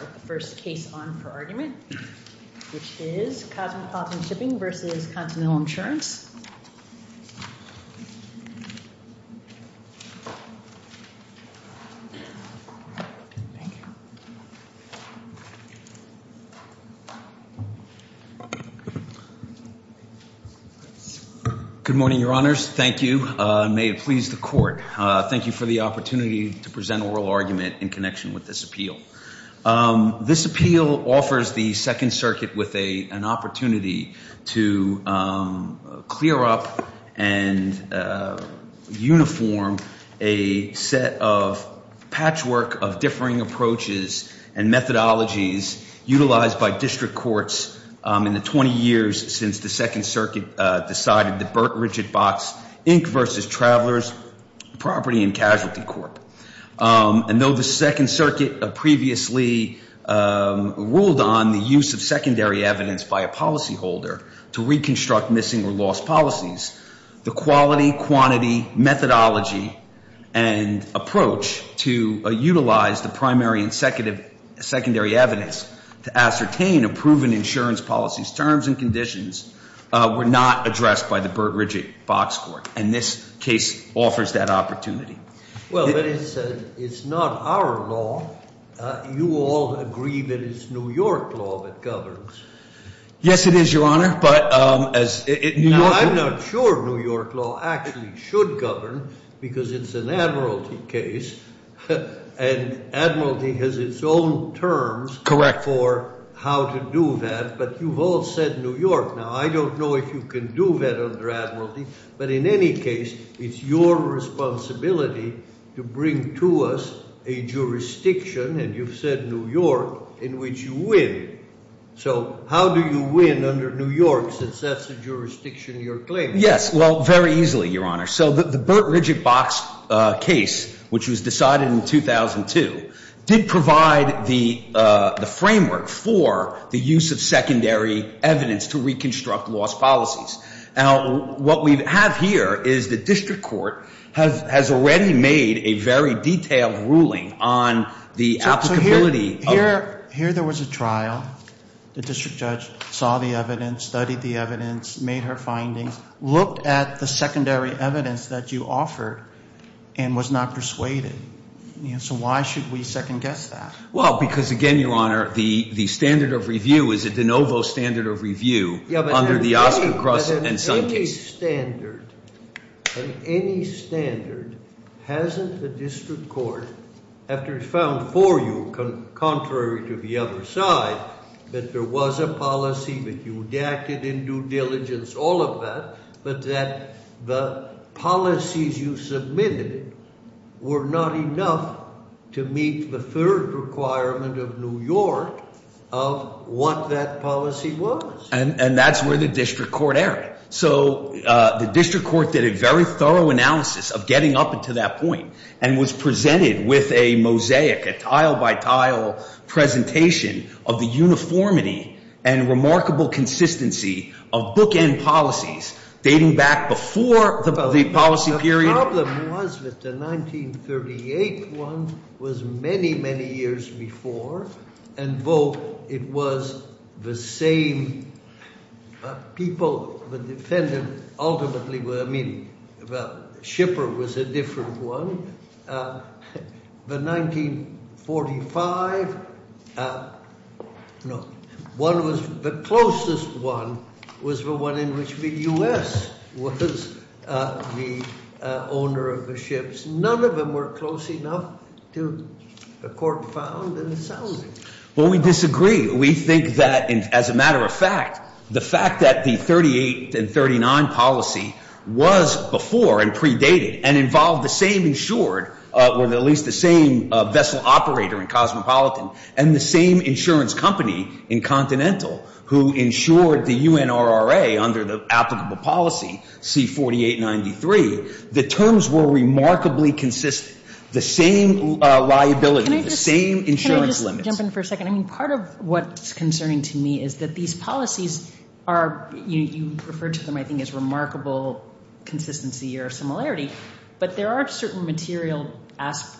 with the first case on for argument, which is Cosmopolitan Shipping v. Continental Insurance. Good morning, your honors. Thank you. May it please the court. Thank you for the opportunity to present oral argument in connection with this appeal. This appeal offers the Second Circuit with an opportunity to clear up and uniform a set of patchwork of differing approaches and methodologies utilized by district courts in the 20 years since the Second Circuit decided to override the Burt Richard Box Inc. v. Travelers Property and Casualty Corp. And though the Second Circuit previously ruled on the use of secondary evidence by a policyholder to reconstruct missing or lost policies, the quality, quantity, methodology, and approach to utilize the primary and secondary evidence to ascertain a proven insurance policy's terms and conditions were not addressed by the Burt Richard Box Court. And this case offers that opportunity. Well, but it's not our law. You all agree that it's New York law that governs. Yes, it is, your honor, but as New York... Now, I'm not sure New York law actually should govern, because it's an admiralty case. And admiralty has its own terms for how to do that, but you've all said New York. Now, I don't know if you can do that under admiralty, but in any case, it's your responsibility to bring to us a jurisdiction, and you've said New York, in which you win. So how do you win under New York, since that's the jurisdiction you're claiming? Yes, well, very easily, your honor. So the Burt Richard Box case, which was decided in 2002, did provide the framework for the use of secondary evidence to reconstruct lost policies. Now, what we have here is the district court has already made a very detailed ruling on the applicability... Here there was a trial. The district judge saw the evidence, studied the evidence, made her findings, looked at the secondary evidence that you offered, and was not persuaded. So why should we second-guess that? Well, because again, your honor, the standard of review is a de novo standard of review under the Oscar Cross and Sun case. This standard, and any standard, hasn't the district court, after it's found for you, contrary to the other side, that there was a policy that you acted in due diligence, all of that, but that the policies you submitted were not enough to meet the third requirement of New York of what that policy was. And that's where the district court erred. So the district court did a very thorough analysis of getting up to that point, and was presented with a mosaic, a tile-by-tile presentation of the uniformity and remarkable consistency of bookend policies dating back before the policy period. The problem was that the 1938 one was many, many years before, and though it was the same people, the defendant ultimately, I mean, the shipper was a different one. The 1945 one was the closest one, was the one in which the U.S. was the owner of the ships. None of them were close enough to the court found in the settlement. Well, we disagree. We think that, as a matter of fact, the fact that the 1938 and 1939 policy was before and predated and involved the same insured or at least the same vessel operator in Cosmopolitan and the same insurance company in Continental who insured the UNRRA under the applicable policy, C-4893, the terms were remarkably consistent. The same liability, the same insurance limits. Can I just jump in for a second? I mean, part of what's concerning to me is that these policies are, you refer to them, I think, as remarkable consistency or similarity, but there are certain material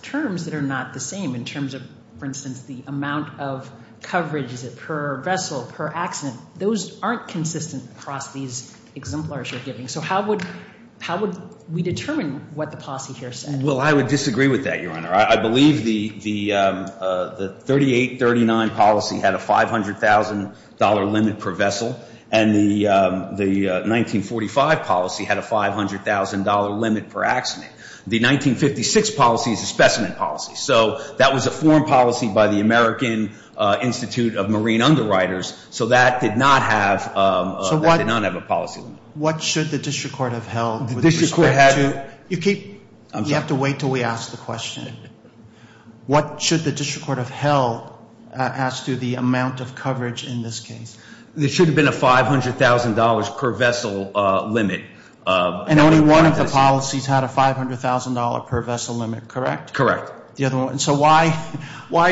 terms that are not the same in terms of, for instance, the amount of coverage per vessel, per accident. Those aren't consistent across these exemplars you're giving. So how would we determine what the policy here said? Well, I would disagree with that, Your Honor. I believe the 38-39 policy had a $500,000 limit per vessel and the 1945 policy had a $500,000 limit per accident. The 1956 policy is a specimen policy, so that was a foreign policy by the American Institute of Marine Underwriters, so that did not have a policy limit. So what should the district court have held with respect to? You have to wait until we ask the question. What should the district court have held as to the amount of coverage in this case? There should have been a $500,000 per vessel limit. And only one of the policies had a $500,000 per vessel limit, correct? Correct. So why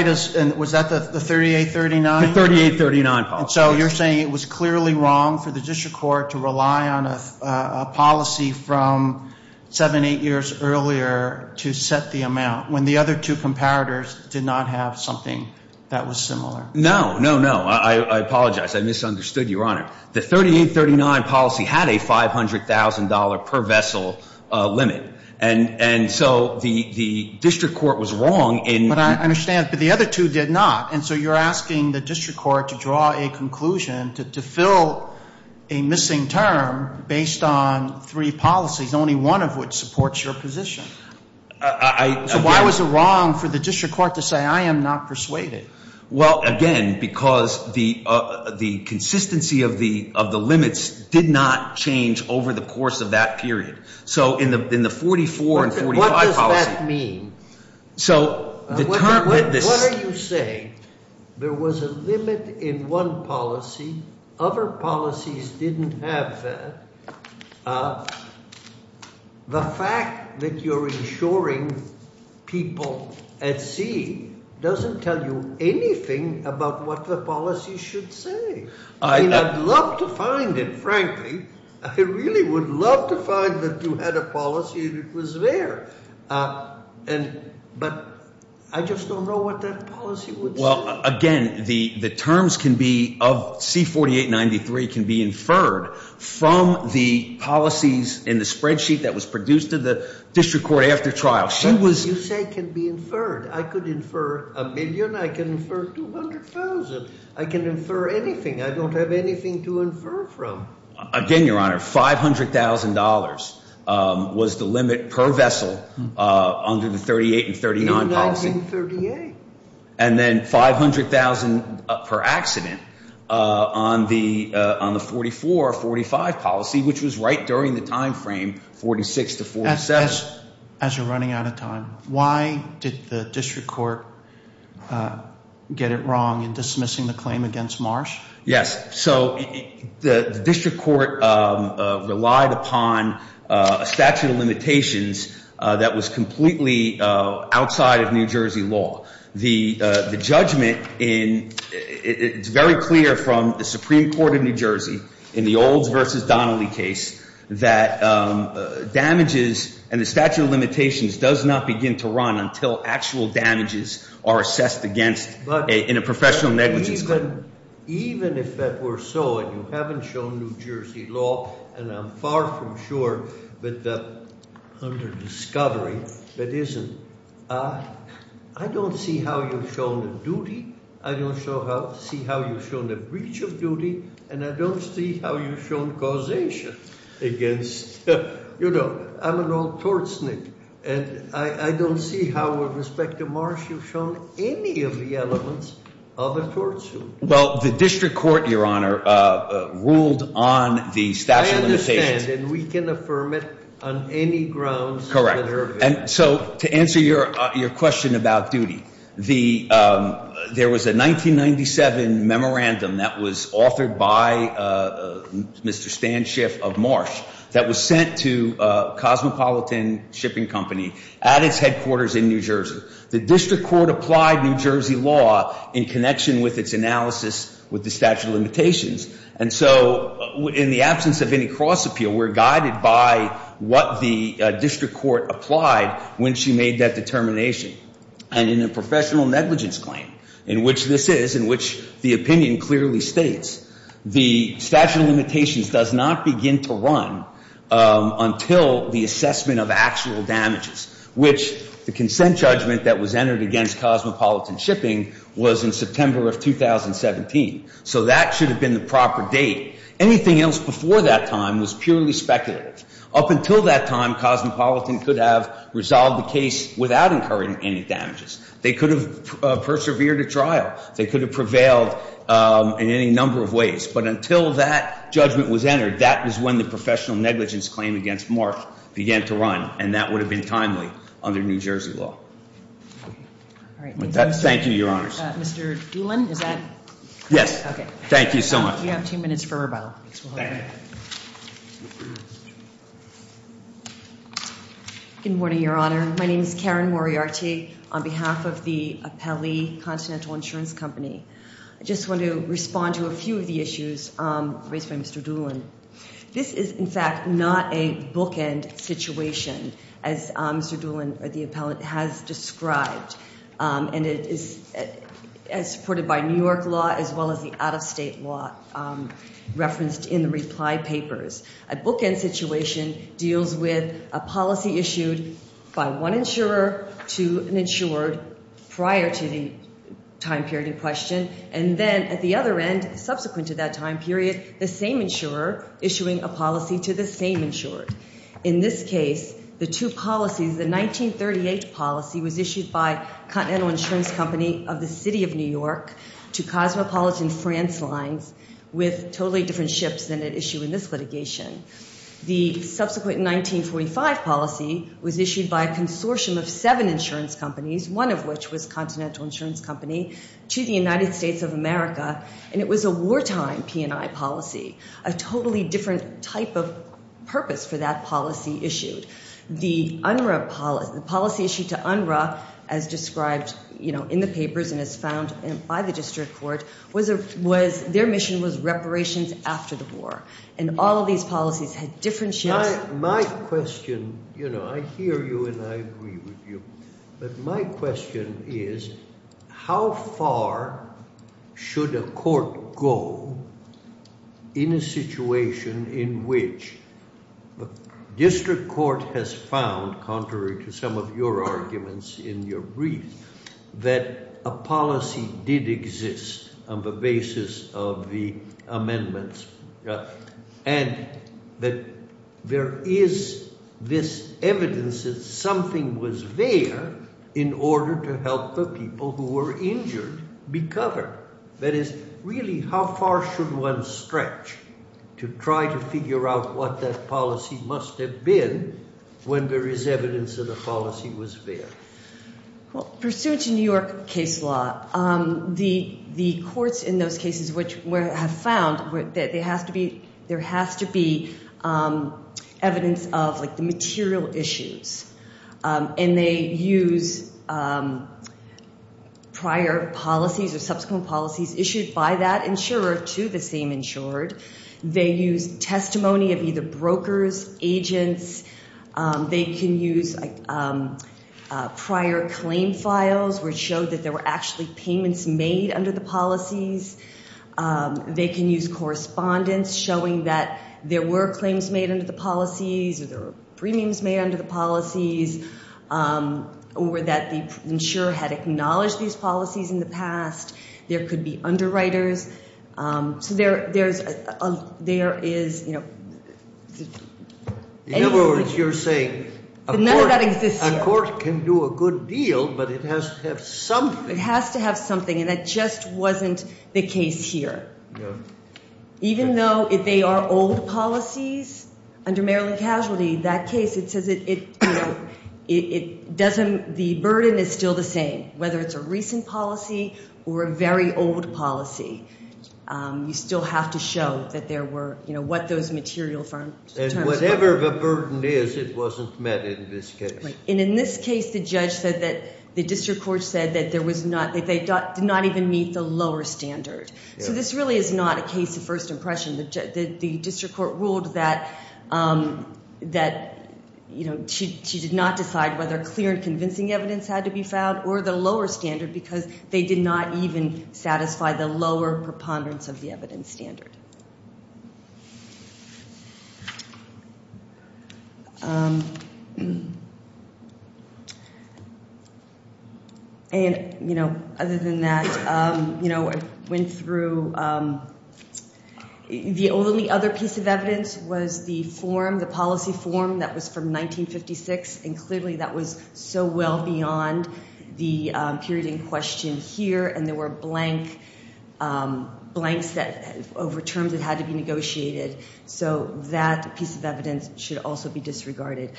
does, was that the 38-39? The 38-39 policy. So you're saying it was clearly wrong for the district court to rely on a policy from seven, eight years earlier to set the amount when the other two comparators did not have something that was similar? No, no, no. I apologize. I misunderstood, Your Honor. The 38-39 policy had a $500,000 per vessel limit. And so the district court was wrong in... But I understand, but the other two did not. And so you're asking the district court to draw a conclusion to fill a missing term based on three policies, only one of which supports your position. I... So why was it wrong for the district court to say, I am not persuaded? Well, again, because the consistency of the limits did not change over the course of that period. So in the 44 and 45 policy... What does that mean? So the term that this... What are you saying? There was a limit in one policy. Other policies didn't have that. The fact that you're insuring people at sea doesn't tell you anything about what the policy should say. I mean, I'd love to find it, frankly. I really would love to find that you had a policy that was there. And... But I just don't know what that policy would say. Well, again, the terms can be of... C-48-93 can be inferred from the policies in the spreadsheet that was produced to the district court after trial. She was... You say can be inferred. I could infer a million. I can infer 200,000. I can infer anything. I don't have anything to infer from. Again, Your Honor, $500,000 was the limit per vessel under the 38 and 39 policy. In 1938. And then $500,000 per accident on the 44-45 policy, which was right during the time frame 46 to 47. As you're running out of time, why did the district court get it wrong in dismissing the claim against Marsh? Yes. So the district court relied upon a statute of limitations that was completely outside of New Jersey law. The judgment in... It's very clear from the Supreme Court of New Jersey that damages and the statute of limitations does not begin to run until actual damages are assessed against in a professional negligence claim. Even if that were so, and you haven't shown New Jersey law, and I'm far from sure, but under discovery, that isn't... I don't see how you've shown the duty. I don't see how you've shown the breach of duty. And I don't see how you've shown causation against... You know, I'm an old tortsnick. And I don't see how, with respect to Marsh, you've shown any of the elements of a tortsuit. Well, the district court, Your Honor, ruled on the statute of limitations. I understand, and we can affirm it on any grounds that are available. Correct. And so to answer your question about duty, there was a 1997 memorandum that was authored by Mr. Stan Schiff of Marsh that was sent to a cosmopolitan shipping company at its headquarters in New Jersey. The district court applied New Jersey law in connection with its analysis with the statute of limitations. And so, in the absence of any cross-appeal, we're guided by what the district court applied when she made that determination. And in a professional negligence claim, in which this is, in which the opinion clearly states, the statute of limitations does not begin to run until the assessment of actual damages, which the consent judgment that was entered against cosmopolitan shipping was in September of 2017. So that should have been the proper date. Anything else before that time was purely speculative. Up until that time, cosmopolitan could have resolved the case without incurring any damages. They could have persevered at trial. They could have prevailed in any number of ways. But until that judgment was entered, that was when the professional negligence claim against Mark began to run, and that would have been timely under New Jersey law. Thank you, Your Honors. Mr. Doolin, is that correct? Yes. Thank you so much. You have two minutes for rebuttal. Good morning, Your Honor. My name is Karen Moriarty on behalf of the Appelli Continental Insurance Company. I just want to respond to a few of the issues raised by Mr. Doolin. This is, in fact, not a bookend situation, as Mr. Doolin, or the appellant, has described. And it is supported by New York law as well as the out-of-state law referenced in the reply papers. A bookend situation deals with a policy issued prior to the time period in question, and then, at the other end, subsequent to that time period, the same insurer issuing a policy to the same insurer. In this case, the two policies, the 1938 policy was issued by Continental Insurance Company of the City of New York to Cosmopolitan France Lines with totally different ships than it issued in this litigation. The subsequent 1945 policy was issued by a consortium of seven insurance companies, one of which was Continental Insurance Company, to the United States of America. And it was a wartime P&I policy, a totally different type of purpose for that policy issued. The policy issued to UNRRA, as described in the papers and as found by the district court, their mission was reparations after the war. And all of these policies had different ships. My question, I hear you and I agree with you, but my question is, how far should a court go in a situation in which the district court has found, contrary to some of your arguments in your brief, that a policy did exist on the basis of the amendments and that there is this evidence that something was there in order to help the people who were injured be covered? That is, really, how far should one stretch to try to figure out what that policy must have been when there is evidence that the policy was there? Well, pursuant to New York case law, the courts in those cases which have found that there has to be evidence of the material issues. And they use prior policies or subsequent policies issued by that insurer to the same insured. They use testimony of either brokers, agents. They can use prior claim files which show that there were actually payments made under the policies. They can use correspondence showing that there were claims made under the policies or there were premiums made under the policies or that the insurer had acknowledged these policies in the past. There could be underwriters. In other words, you're saying a court can do a good deal, but it has to have something. It has to have something, and that just wasn't the case here. Even though they are old policies under Maryland Casualty, that case, it doesn't, the burden is still the same. Whether it's a recent policy or a very old policy, you still have to show that there were, you know, what those material terms were. And whatever the burden is, it wasn't met in this case. And in this case, the judge said that the district court said that they did not even meet the lower standard. So this really is not a case of first impression. The district court ruled that that, you know, she did not decide whether clear and convincing evidence had to be filed or the lower standard because they did not even satisfy the lower preponderance of the evidence standard. And, you know, other than that, you know, I went through, the only other piece of evidence was the form, the policy form that was from 1956, and clearly that was so well beyond the period in question here and there were blanks that over terms that had to be negotiated. So that piece of evidence should also be disregarded.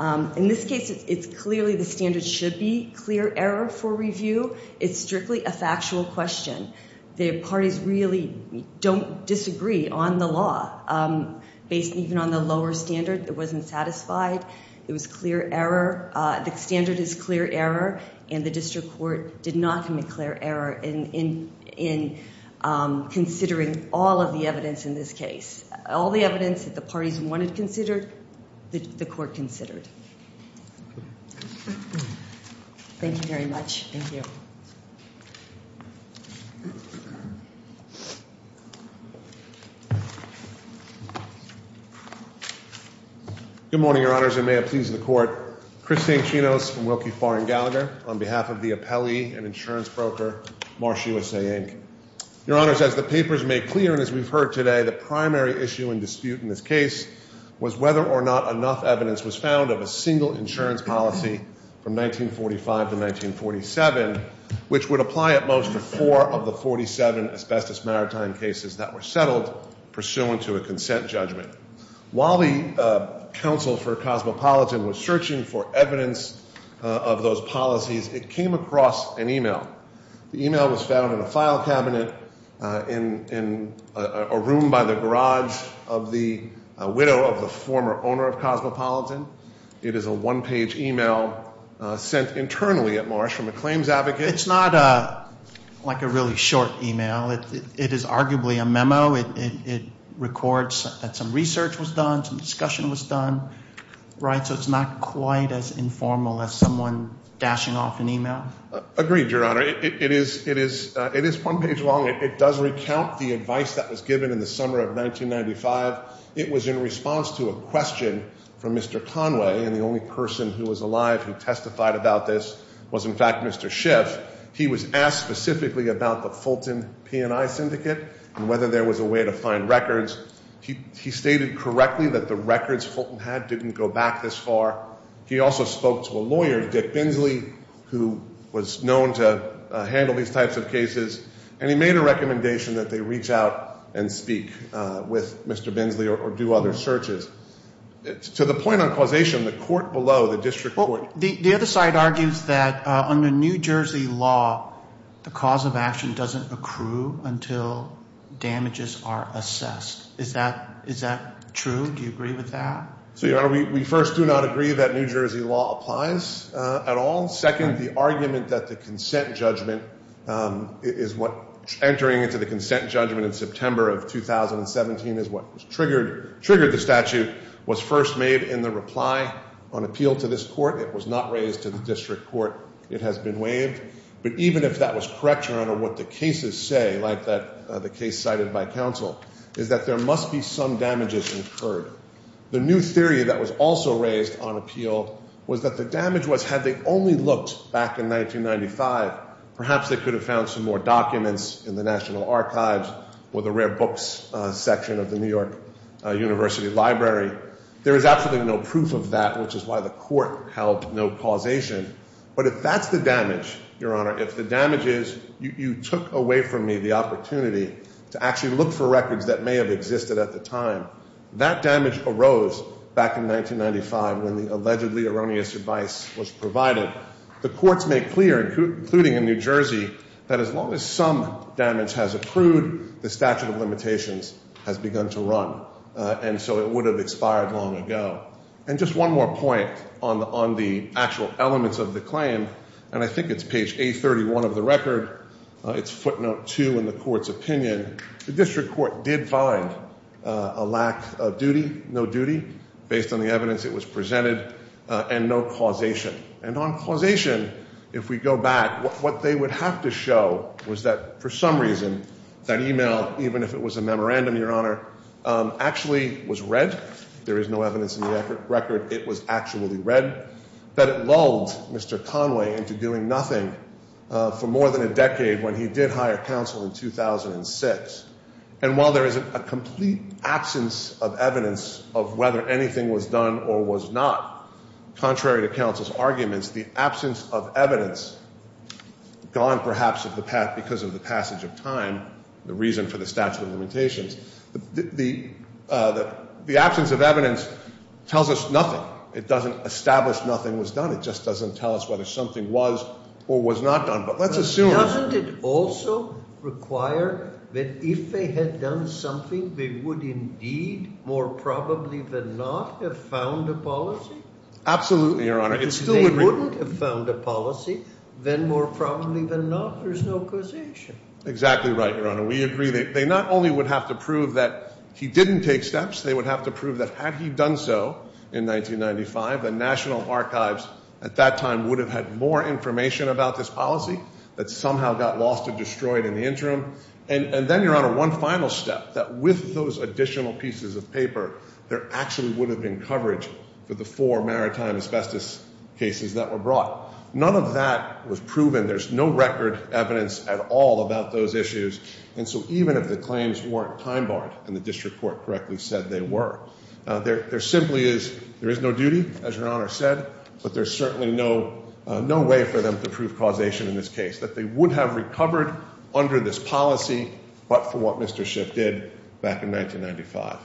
In this case, it's clearly the standard should be clear error for review. It's strictly a factual question. The parties really don't disagree on the law based even on the lower standard that wasn't satisfied. It was clear error. The standard is clear error and the district court did not commit clear error in considering all of the evidence in this case. All the evidence that the parties wanted considered, the court considered. Thank you very much. Thank you. Good morning, Your Honors, and may it please the court. Chris Anchino from Wilkie, Farr, and Gallagher on behalf of the appellee and insurance broker Marsh USA, Inc. Your Honors, as the papers made clear and as we've heard today, the primary issue and dispute in this case was whether or not enough evidence was found of a single insurance policy from 1945 to 1947 which would apply at most to four of the 47 asbestos maritime cases that were settled pursuant to a consent judgment. While the Council for Cosmopolitan was searching for evidence of those policies, it came across an email. The email was found in a file cabinet in a room by the garage of the widow of the former owner of Cosmopolitan. It is a one-page email sent internally at Marsh from a claims advocate. It's not like a really short email. It is arguably a memo. It records that some research was done, some discussion was done. Right? So it's not quite as informal as someone dashing off an email. Agreed, Your Honor. It is one page long. It does recount the advice that was given in the summer of 1995. It was in response to a question from Mr. Conway and the only person who was alive who testified about this was, in fact, Mr. Schiff. He was asked specifically about the Fulton P&I syndicate and whether there was a way to find records. He stated correctly that the records Fulton had didn't go back this far. He also spoke to a lawyer, Dick Bensley, who was known to handle these types of cases and he made a recommendation that they reach out and speak with Mr. Bensley or do other searches. To the point on causation, the court below, the district court The other side argues that under New Jersey law the cause of action doesn't accrue until damages are assessed. Is that true? Do you agree with that? So, Your Honor, we first do not agree that New Jersey law applies at all. Second, the argument that the consent judgment is what entering into the consent judgment in September of 2017 is what triggered the statute was first made in the reply on appeal to this court. It was not raised to the district court. It has been waived but even if that was correct, Your Honor, what the cases say like the case cited by counsel is that there must be some damages incurred. The new theory that was also raised on appeal was that the damage was had they only looked back in 1995 perhaps they could have found some more documents in the National Archives or the rare books section of the New York University Library. There is absolutely no proof of that which is why the court held no causation but if that's the damage, Your Honor, if the damage is you took away from me the opportunity to actually look for records that may have existed at the time that damage arose back in 1995 when the allegedly erroneous advice was provided. The courts made clear including in New Jersey that as long as some damage has accrued the statute of limitations has begun to run and so it would have expired long ago. And just one more point on the actual elements of the claim and I think it's page 831 of the record it's footnote 2 in the court's opinion the district court did find a lack of duty no duty based on the evidence that was presented and no causation and on causation if we go back what they would have to show was that for some reason that email even if it was a memorandum, Your Honor actually was read there is no evidence in the record it was actually read that it lulled Mr. Conway into doing nothing for more than a decade when he did hire counsel in 2006 and while there is a complete absence of evidence of whether anything was done or was not contrary to counsel's arguments the absence of evidence gone perhaps because of the passage of time the reason for the statute of limitations the absence of evidence tells us nothing it doesn't establish nothing was done it just doesn't tell us whether something was or was not done but let's the House cannot have found a policy absolutely Your Honor they wouldn't have found a policy then more probably than not there is no causation exactly right Your Honor We agree that they not only would have to prove that he didn't take steps they would have to prove that had he done so in 1995 the National Archives at that time would have had more information about this policy that somehow got lost and destroyed in the interim and then Your Honor one final step that with those additional pieces of paper there actually would have been coverage for the four maritime asbestos cases that were brought none of that was proven there is no record evidence at all about those issues and so even if the claims weren't time barred and the district court correctly said they were there simply is there is no duty as Your Honor said but there is certainly no way for them to prove causation in this case that they would have recovered under this policy but for what Mr. Schiff did back in 1995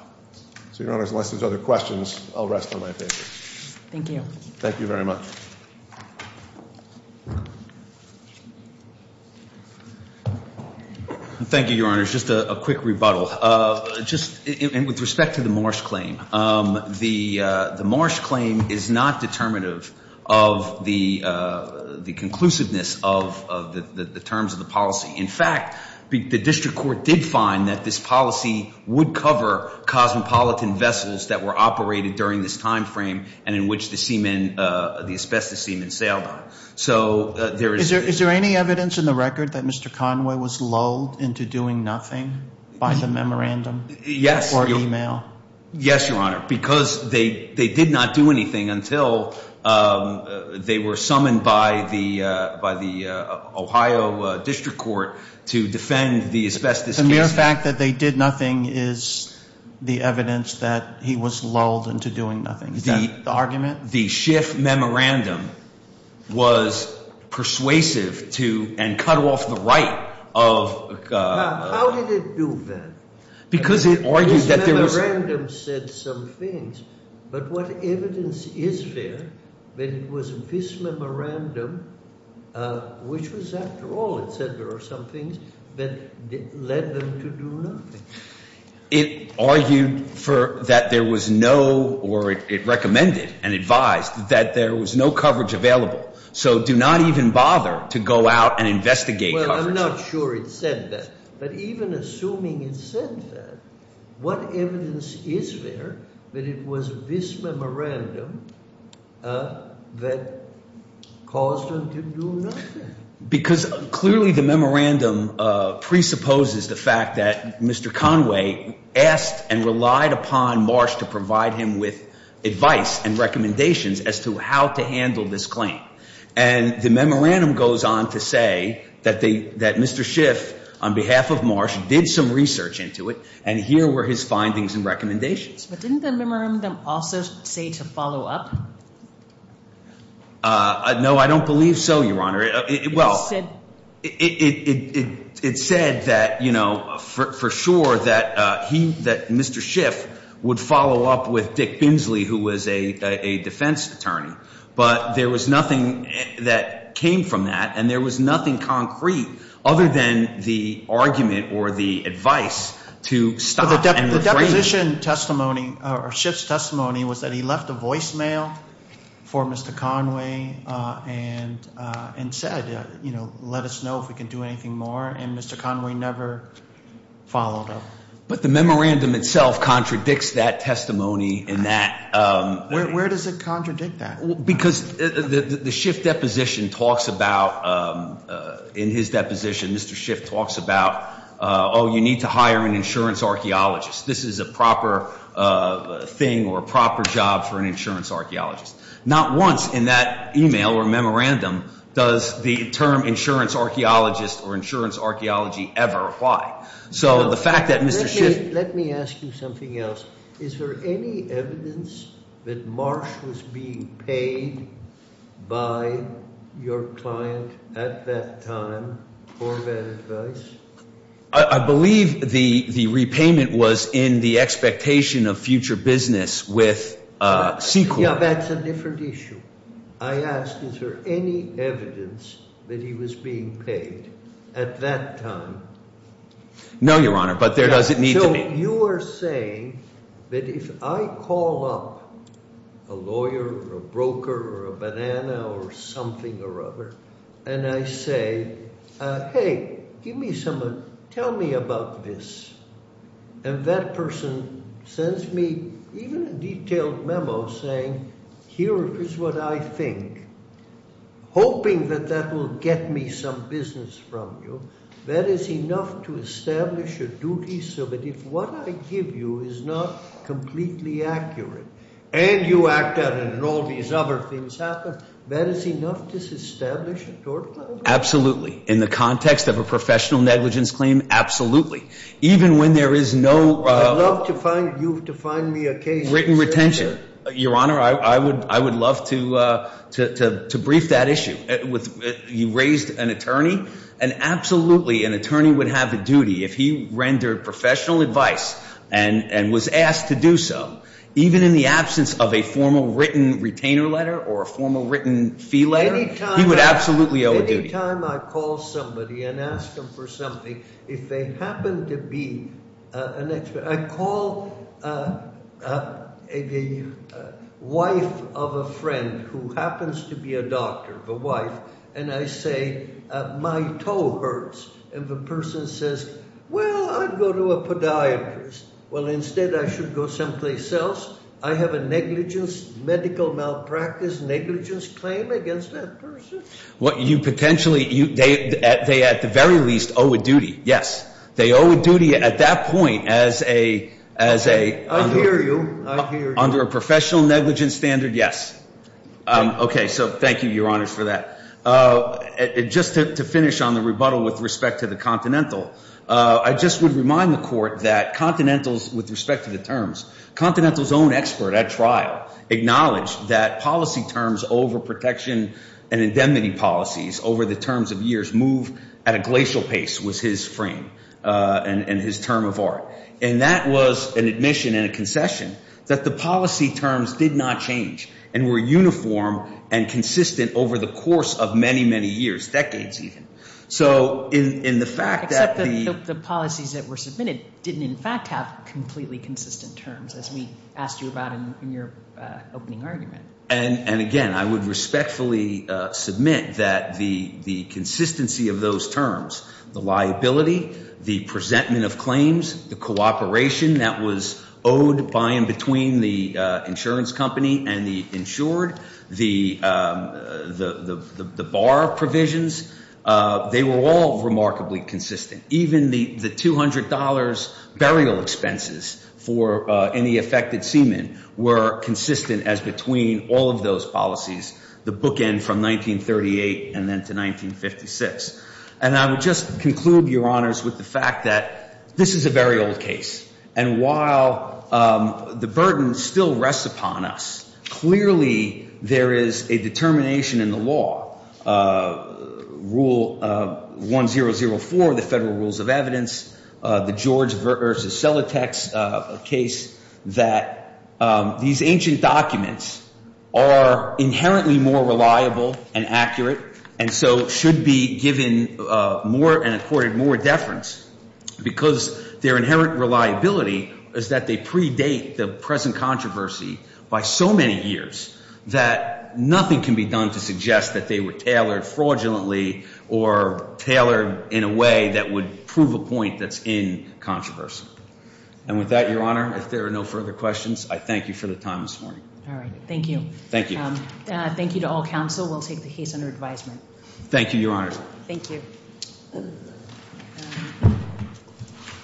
so Your Honor unless there are other questions I'll rest on my paper Thank you Thank you very much Thank you Your Honor just a quick rebuttal just with respect to the Marsh claim the Marsh claim of the policy in fact the district court did find that the Marsh claim was not determinative of the conclusiveness of the terms of the policy in fact they did find that this policy would cover cosmopolitan vessels that were operated during this time frame and in which the semen the asbestos semen sailed on so there is Is there any evidence in the record that Mr. Conway was lulled into doing nothing by the memorandum Yes or email Yes Your Honor because they they did not do anything until they were summoned by the by the Ohio district court to defend the asbestos the mere fact that they did nothing is the evidence that he was lulled into doing nothing is that the argument the Schiff memorandum was persuasive to and cut off the right of how did it do that because it argued that there was this memorandum said some things but what evidence is there that it was this memorandum which was after all it said there were some things that led them to do nothing it argued for that there was no or it recommended and advised that there was no coverage available so do not even bother to go out and investigate coverage well I'm not sure it said that but even assuming it said that what evidence is there that it was this memorandum that caused them to do nothing because clearly the memorandum presupposes the fact that Mr. Conway asked and relied upon Marsh to provide him with advice and recommendations as to how to handle this claim and the memorandum goes on to say that they that Mr. Schiff on behalf of Marsh did some research into it and here were his findings and recommendations but didn't the memorandum also say to follow up no I don't believe so your honor well it said that for sure that Mr. Schiff would follow up with Dick Binsley who was a defense attorney but there was nothing that came from that and there was nothing concrete other than the argument or the advice to stop and refrain the deposition testimony or Schiff's testimony was that he left a voicemail for Mr. Conway and said let us know if we can do anything more and Mr. Conway never followed up but the memorandum itself contradicts that testimony and that where does it contradict that because the Schiff deposition talks about in his deposition Mr. Schiff talks about oh you need to hire an insurance archaeologist this is a proper thing or a proper job for an insurance archaeologist not once in that email or memorandum does the term insurance archaeologist or insurance archaeology ever apply so the fact that Mr. Schiff let me ask you something else is there any evidence that Marsh was being paid by your client at that time for that advice I believe the repayment was in the expectation of future business with C Corp yeah that's a different issue I asked is there any evidence that he was being paid at that time no your honor but there doesn't need to be so you are saying that if I call up a lawyer or a broker or a banana or something or other and I say hey give me some tell me about this and that person sends me even a detailed memo saying here is what I think hoping that that will get me some business from you that is enough to establish a duty so that if what I give you is not completely accurate and you act out and all these other things happen that is enough to establish a duty absolutely in the context of a professional negligence claim absolutely even when there is no written retention your honor I would love to brief that issue you raised an attorney and absolutely an attorney would have a duty if he rendered professional advice and was asked to do so even in the absence of a formal written retainer letter or a formal written fee letter he would absolutely owe a duty. Anytime I call somebody and ask them for something if they happen to be an expert I call the wife of a friend who happens to be a doctor the wife and I say my wife does not have a profession negligence claim against that person? What you potentially they are at the very least owe a duty at that point under a professional negligence standard yes a just to finish on the fact that the policy terms over the terms of years move at a glacial pace was his and that was an admission and a concession that the policy terms did not change and were uniform and consistent over the course of many years. I would respectfully submit that the consistency of those terms, the liability, the cooperation that was owed by and between the insurance company and the insured, the bar provisions, they were all remarkably consistent. Even the $200 burial expenses for any affected semen were consistent as between all of those policies, the bookend from 1938 and then to 1956. And I would just conclude, Your Honors, with the fact that this is a very old case and while the burden still rests upon us, clearly there is a determination in the law, Rule 1004, the Federal Rules of Evidence, the George v. Celotex case, that these ancient documents are inherently more reliable and accurate and so should be given more and accorded more deference because their inherent validity is by the Federal Rules of Evidence. And with that, Your Honor, if there are no further questions, I thank you for the time this morning. Thank you. Thank you to all counsel. We'll take the case under advisement. Thank you, Your Honor. Thank you.